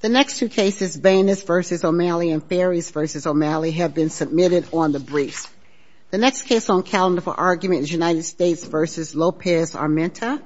The next two cases, Banas v. O'Malley and Fares v. O'Malley, have been submitted on the briefs. The next case on calendar for argument is United States v. Lopez-Armenta.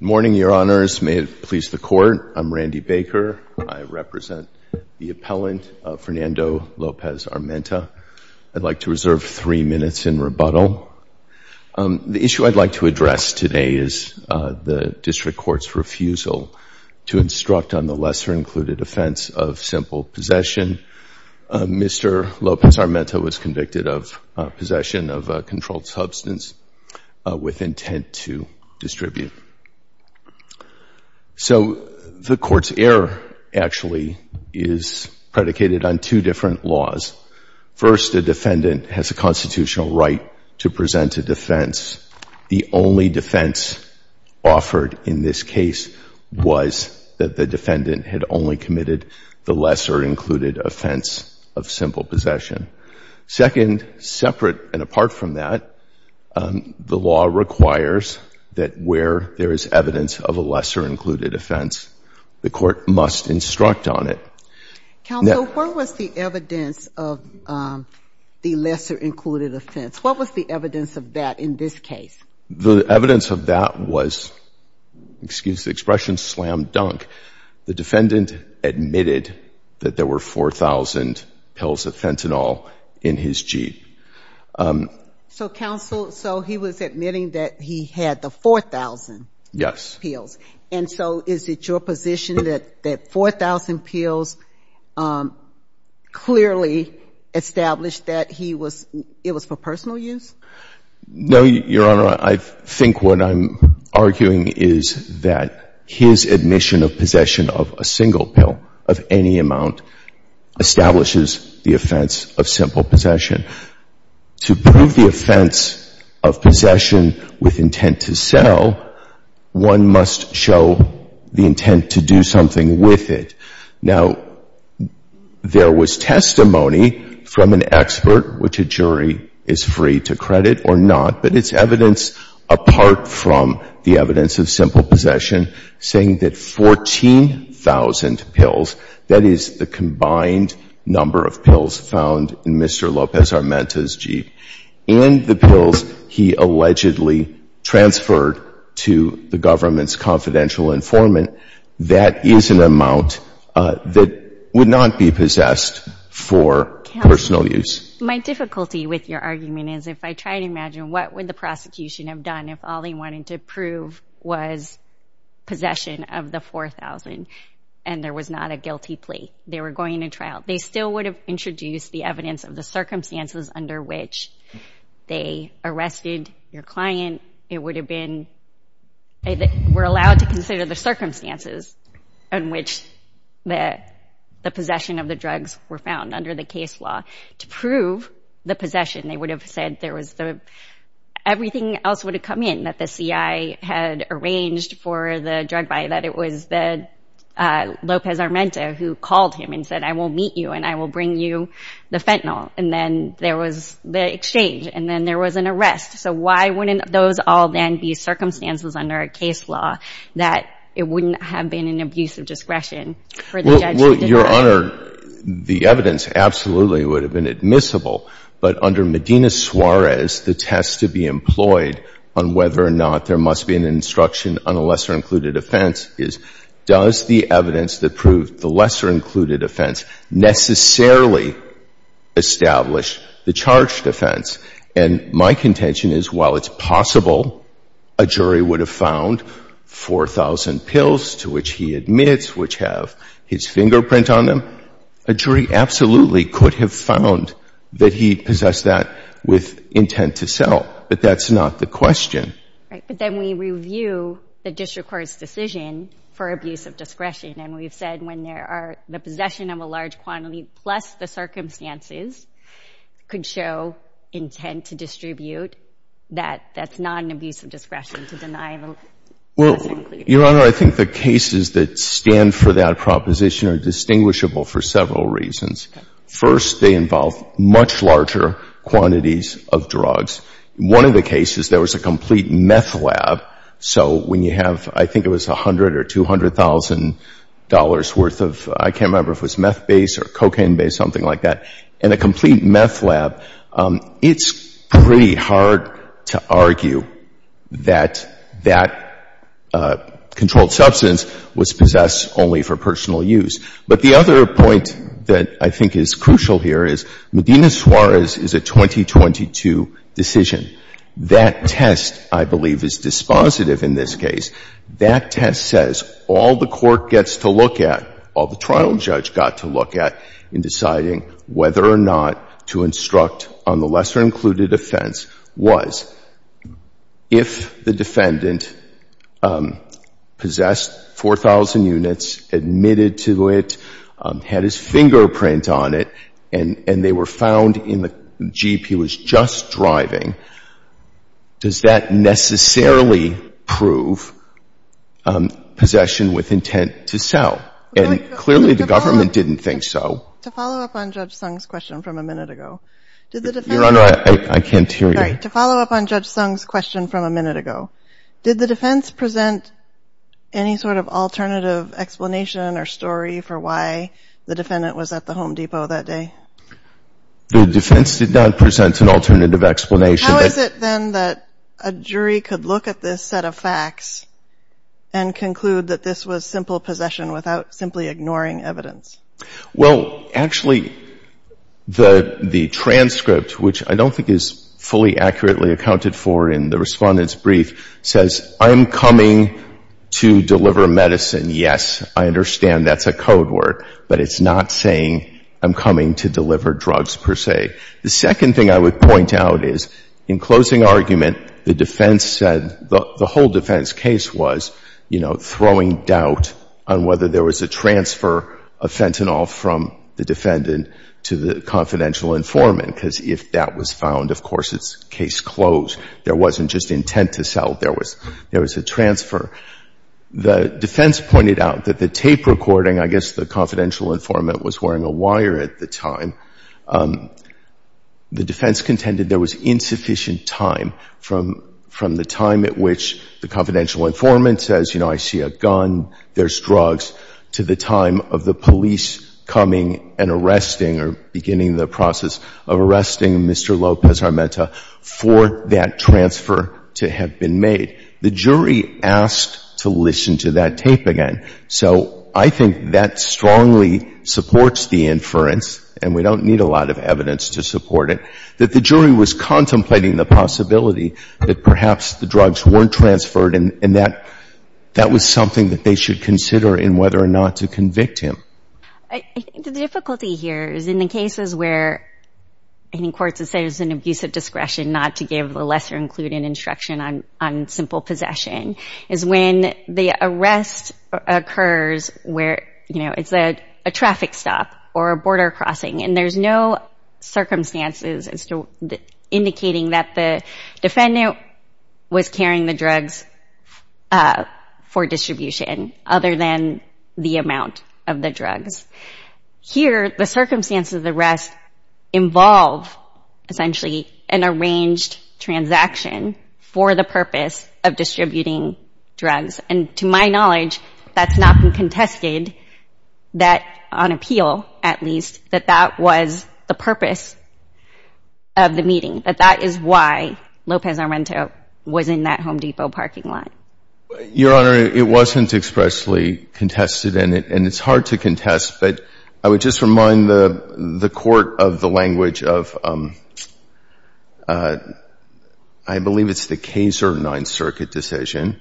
Good morning, Your Honors. May it please the Court. I'm Randy Baker. I represent the appellant, Fernando Lopez-Armenta. I'd like to reserve three minutes in rebuttal. The issue I'd like to address today is the District Court's refusal to instruct on the lesser-included offense of simple possession. Mr. Lopez-Armenta was convicted of possession of a controlled substance with intent to distribute. So the Court's error actually is predicated on two different laws. First, the defendant has a constitutional right to present a defense. The only defense offered in this case was that the defendant had only committed the lesser-included offense of simple possession. Second, separate and apart from that, the law requires that where there is evidence of a lesser-included offense, the Court must instruct on it. Counsel, where was the evidence of the lesser-included offense? What was the evidence of that in this case? The evidence of that was, excuse the expression, slam dunk. The defendant admitted that there were 4,000 pills of fentanyl in his Jeep. So, Counsel, so he was admitting that he had the 4,000 pills. Yes. And so is it your position that 4,000 pills clearly established that it was for personal use? No, Your Honor. I think what I'm arguing is that his admission of possession of a single pill of any amount establishes the offense of simple possession. To prove the offense of possession with intent to sell, one must show the intent to do something with it. Now, there was testimony from an expert, which a jury is free to credit or not, but it's evidence apart from the evidence of simple possession saying that 14,000 pills, that is the combined number of pills found in Mr. Lopez-Armenta's Jeep, and the pills he allegedly transferred to the government's confidential informant, that is an amount that would not be possessed for personal use. Counsel, my difficulty with your argument is if I try to imagine what would the prosecution have done if all they wanted to prove was possession of the 4,000 and there was not a guilty plea. They were going to trial. They still would have introduced the evidence of the circumstances under which they arrested your client. It would have been, they were allowed to consider the circumstances in which the possession of the drugs were found under the case law. To prove the possession, they would have said there was the, everything else would have come in that the CI had arranged for the drug buyer, that it was the Lopez-Armenta who called him and said, I will meet you and I will bring you the fentanyl. And then there was the exchange and then there was an arrest. So why wouldn't those all then be circumstances under a case law that it wouldn't have been an abuse of discretion? Well, Your Honor, the evidence absolutely would have been admissible. But under Medina-Suarez, the test to be employed on whether or not there must be an instruction on a lesser-included offense is, does the evidence that proved the lesser-included offense necessarily establish the charged offense? And my contention is, while it's possible a jury would have found 4,000 pills to which he admits, which have his fingerprint on them, a jury absolutely could have found that he possessed that with intent to sell. But that's not the question. Right. But then we review the district court's decision for abuse of discretion. And we've said when there are the possession of a large quantity plus the circumstances could show intent to distribute, that that's not an abuse of discretion to deny the lesser-included. Your Honor, I think the cases that stand for that proposition are distinguishable for several reasons. First, they involve much larger quantities of drugs. One of the cases, there was a complete meth lab. So when you have, I think it was $100,000 or $200,000 worth of, I can't remember if it was meth-based or cocaine-based, something like that, and a complete meth lab, it's pretty hard to argue that that controlled substance was possessed only for personal use. But the other point that I think is crucial here is Medina Suarez is a 2022 decision. That test, I believe, is dispositive in this case. That test says all the court gets to look at, all the trial judge got to look at in deciding whether or not to instruct on the lesser-included offense was if the defendant possessed 4,000 units, admitted to it, had his fingerprint on it, and they were found in the Jeep he was just driving, does that necessarily prove possession with intent to sell? And clearly, the government didn't think so. To follow up on Judge Sung's question from a minute ago, did the defense... Your Honor, I can't hear you. Sorry. To follow up on Judge Sung's question from a minute ago, did the defense present any sort of alternative explanation or story for why the defendant was at the Home Depot that day? The defense did not present an alternative explanation. How is it, then, that a jury could look at this set of facts and conclude that this was simple possession without simply ignoring evidence? Well, actually, the transcript, which I don't think is fully accurately accounted for in the Respondent's brief, says, I'm coming to deliver medicine. Yes, I understand that's a code word, but it's not saying I'm coming to deliver drugs, per se. The second thing I would point out is, in closing argument, the defense said, the whole defense case was, you know, throwing doubt on whether there was a transfer of fentanyl from the defendant to the confidential informant. Because if that was found, of course, it's case closed. There wasn't just intent to sell. There was a transfer. The defense pointed out that the tape recording, I guess the confidential informant was wearing a wire at the time, the defense contended there was insufficient time from the time at which the confidential informant says, you know, I see a gun, there's drugs, to the time of the police coming and arresting or beginning the process of arresting Mr. Lopez-Armenta for that transfer to have been made. The jury asked to listen to that tape again. So I think that strongly supports the inference, and we don't need a lot of evidence to support it, that the jury was contemplating the possibility that perhaps the drugs weren't transferred, and that was something that they should consider in whether or not to convict him. I think the difficulty here is in the cases where any court says there's an abusive discretion not to give a lesser-included instruction on simple possession is when the arrest occurs where, you know, it's a traffic stop or a border crossing, and there's no circumstances as to indicating that the defendant was carrying the drugs for distribution, other than the amount of the drugs. Here, the circumstances of the arrest involve, essentially, an arranged transaction for the purpose of distributing drugs, and to my knowledge, that's not been contested, that on appeal, at least, that that was the purpose of the meeting, that that is why Lopez-Armenta was in that Home Depot parking lot. Your Honor, it wasn't expressly contested, and it's hard to contest, but I would just remind the Court of the language of, I believe it's the Kaser Ninth Circuit decision,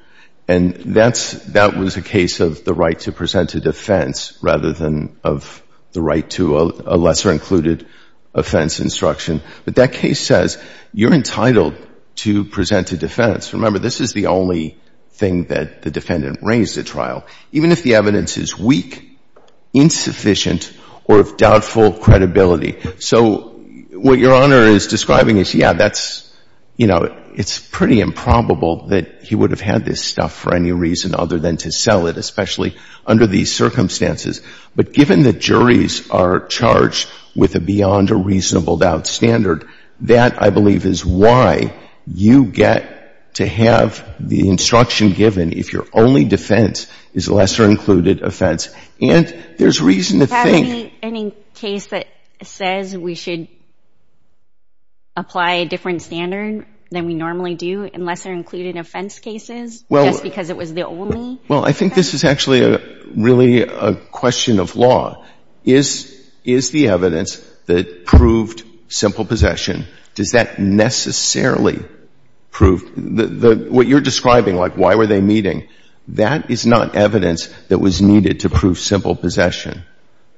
and that's — that was a case of the right to present a defense rather than of the right to a lesser-included offense instruction. But that case says you're entitled to present a defense. Remember, this is the only thing that the defendant raised at trial. Even if the evidence is weak, insufficient, or of doubtful credibility. So what Your Honor is describing is, yeah, that's, you know, it's pretty improbable that he would have had this stuff for any reason other than to sell it, especially under these circumstances. But given that juries are charged with a beyond-a-reasonable-doubt standard, that, I believe, is why you get to have the instruction given if your only defense is a lesser-included offense. And there's reason to think — Have we any case that says we should apply a different standard than we normally do in lesser-included offense cases just because it was the only offense? Well, I think this is actually really a question of law. Is the evidence that proved simple possession, does that necessarily prove — what you're describing, like why were they meeting, that is not evidence that was needed to prove simple possession.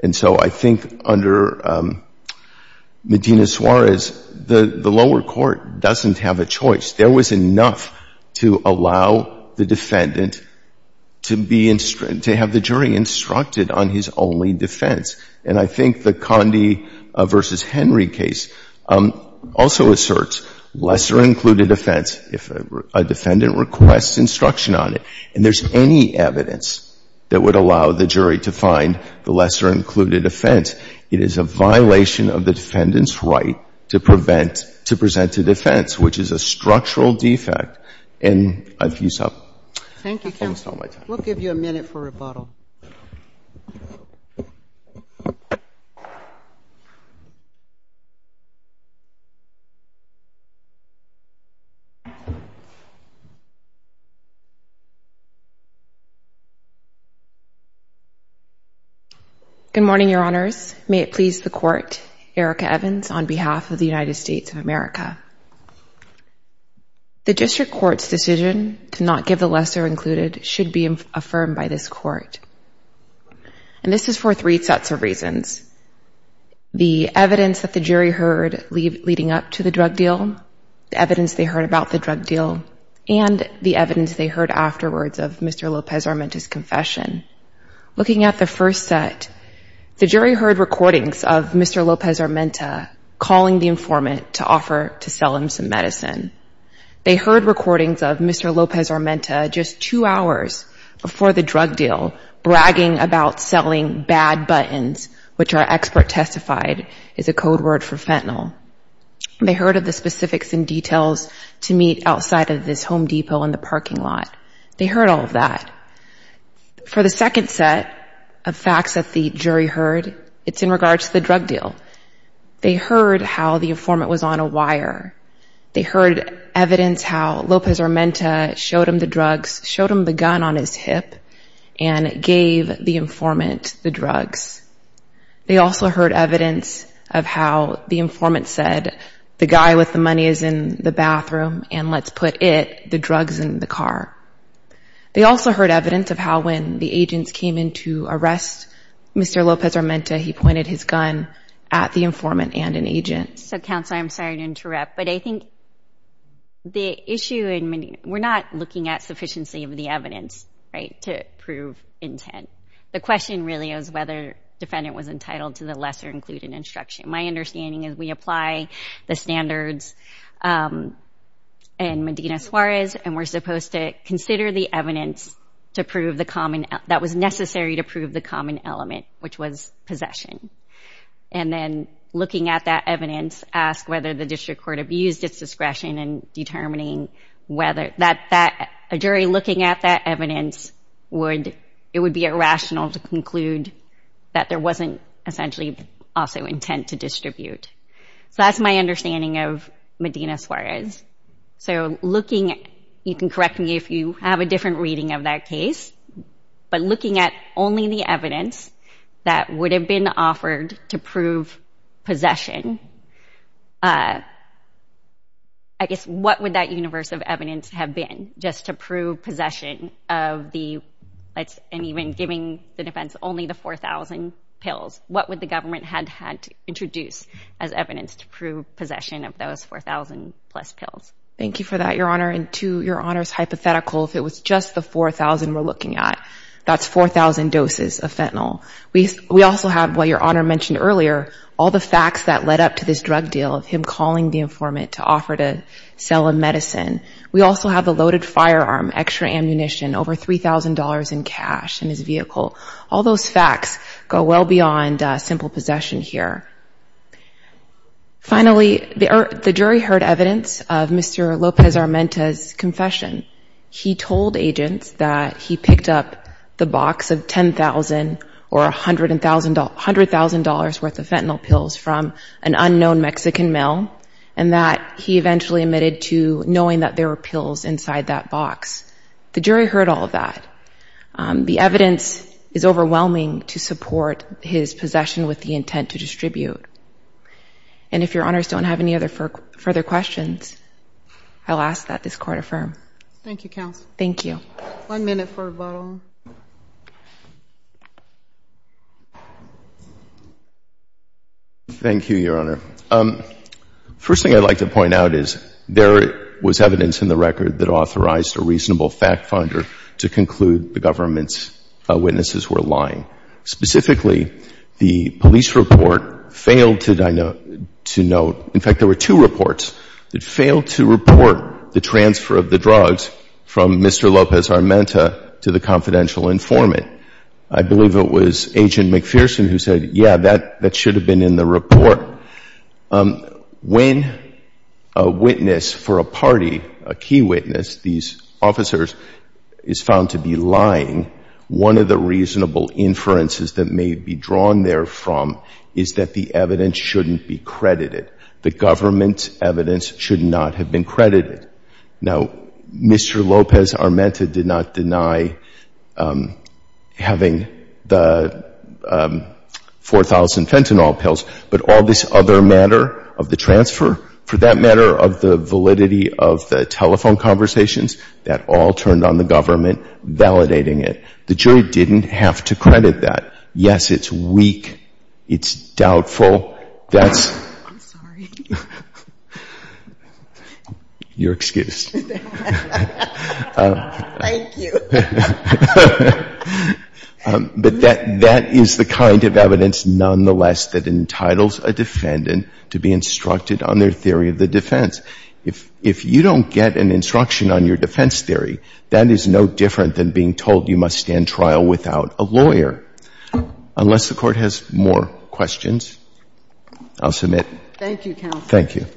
And so I think under Medina-Suarez, the lower court doesn't have a choice. There was enough to allow the defendant to be — to have the jury instructed on his only defense. And I think the Condi v. Henry case also asserts lesser-included offense. If a defendant requests instruction on it, and there's any evidence that would allow the jury to find the lesser-included offense, it is a violation of the defendant's right to prevent — to present a defense, which is a structural defect. And I've used up almost all my time. Thank you, counsel. We'll give you a minute for rebuttal. Good morning, Your Honors. May it please the Court, Erica Evans on behalf of the United States of America. The district court's decision to not give the lesser-included should be affirmed by this Court. And this is for three sets of reasons. The evidence that the jury heard leading up to the drug deal, the evidence they heard about the drug deal, and the evidence they heard afterwards of Mr. Lopez-Armenta's confession. Looking at the first set, the jury heard recordings of Mr. Lopez-Armenta calling the informant to offer to sell him some medicine. They heard recordings of Mr. Lopez-Armenta just two hours before the drug deal bragging about selling bad buttons, which our expert testified is a code word for fentanyl. They heard of the specifics and details to meet outside of this Home Depot in the parking lot. They heard all of that. For the second set of facts that the jury heard, it's in regards to the drug deal. They heard how the informant was on a wire. They heard evidence how Lopez-Armenta showed him the drugs, showed him the gun on his hip, and gave the informant the drugs. They also heard evidence of how the informant said, the guy with the money is in the bathroom, and let's put it, the drugs, in the car. They also heard evidence of how when the agents came in to arrest Mr. Lopez-Armenta, So, Counselor, I'm sorry to interrupt, but I think the issue in Medina, we're not looking at sufficiency of the evidence, right, to prove intent. The question really is whether defendant was entitled to the lesser included instruction. My understanding is we apply the standards in Medina Suarez, and we're supposed to consider the evidence to prove the common, that was necessary to prove the common element, which was possession. And then looking at that evidence, ask whether the district court abused its discretion in determining whether, that a jury looking at that evidence would, it would be irrational to conclude that there wasn't essentially also intent to distribute. So, that's my understanding of Medina Suarez. So, looking, you can correct me if you have a different reading of that case, but if it would have been offered to prove possession, I guess what would that universe of evidence have been just to prove possession of the, and even giving the defense only the 4,000 pills? What would the government have had to introduce as evidence to prove possession of those 4,000 plus pills? Thank you for that, Your Honor, and to Your Honor's hypothetical, if it was just the 4,000 we're looking at, that's 4,000 doses of fentanyl. We also have, what Your Honor mentioned earlier, all the facts that led up to this drug deal of him calling the informant to offer to sell a medicine. We also have the loaded firearm, extra ammunition, over $3,000 in cash in his vehicle. All those facts go well beyond simple possession here. Finally, the jury heard evidence of Mr. Lopez-Armenta's confession. He told agents that he picked up the box of $10,000 or $100,000 worth of fentanyl pills from an unknown Mexican mill, and that he eventually admitted to knowing that there were pills inside that box. The jury heard all of that. The evidence is overwhelming to support his possession with the intent to distribute. And if Your Honors don't have any further questions, I'll ask that this case be adjourned. Thank you. Thank you, counsel. Thank you. One minute for rebuttal. Thank you, Your Honor. First thing I'd like to point out is there was evidence in the record that authorized a reasonable fact finder to conclude the government's witnesses were lying. Specifically, the police report failed to note, in fact, there were two reports that failed to report the transfer of the drugs from Mr. Lopez-Armenta to the confidential informant. I believe it was Agent McPherson who said, yeah, that should have been in the report. When a witness for a party, a key witness, these officers, is found to be lying, one of the reasonable inferences that may be drawn therefrom is that the evidence shouldn't be credited. The government's evidence should not have been credited. Now, Mr. Lopez-Armenta did not deny having the 4,000 fentanyl pills, but all this other matter of the transfer, for that matter of the validity of the telephone conversations, that all turned on the government validating it. The jury didn't have to credit that. Yes, it's weak. It's doubtful. That's your excuse. But that is the kind of evidence, nonetheless, that entitles a defendant to be instructed on their theory of the defense. If you don't get an instruction on your defense theory, that is no different than being told you must stand trial without a lawyer. Unless the Court has more questions, I'll submit. Thank you, Counsel.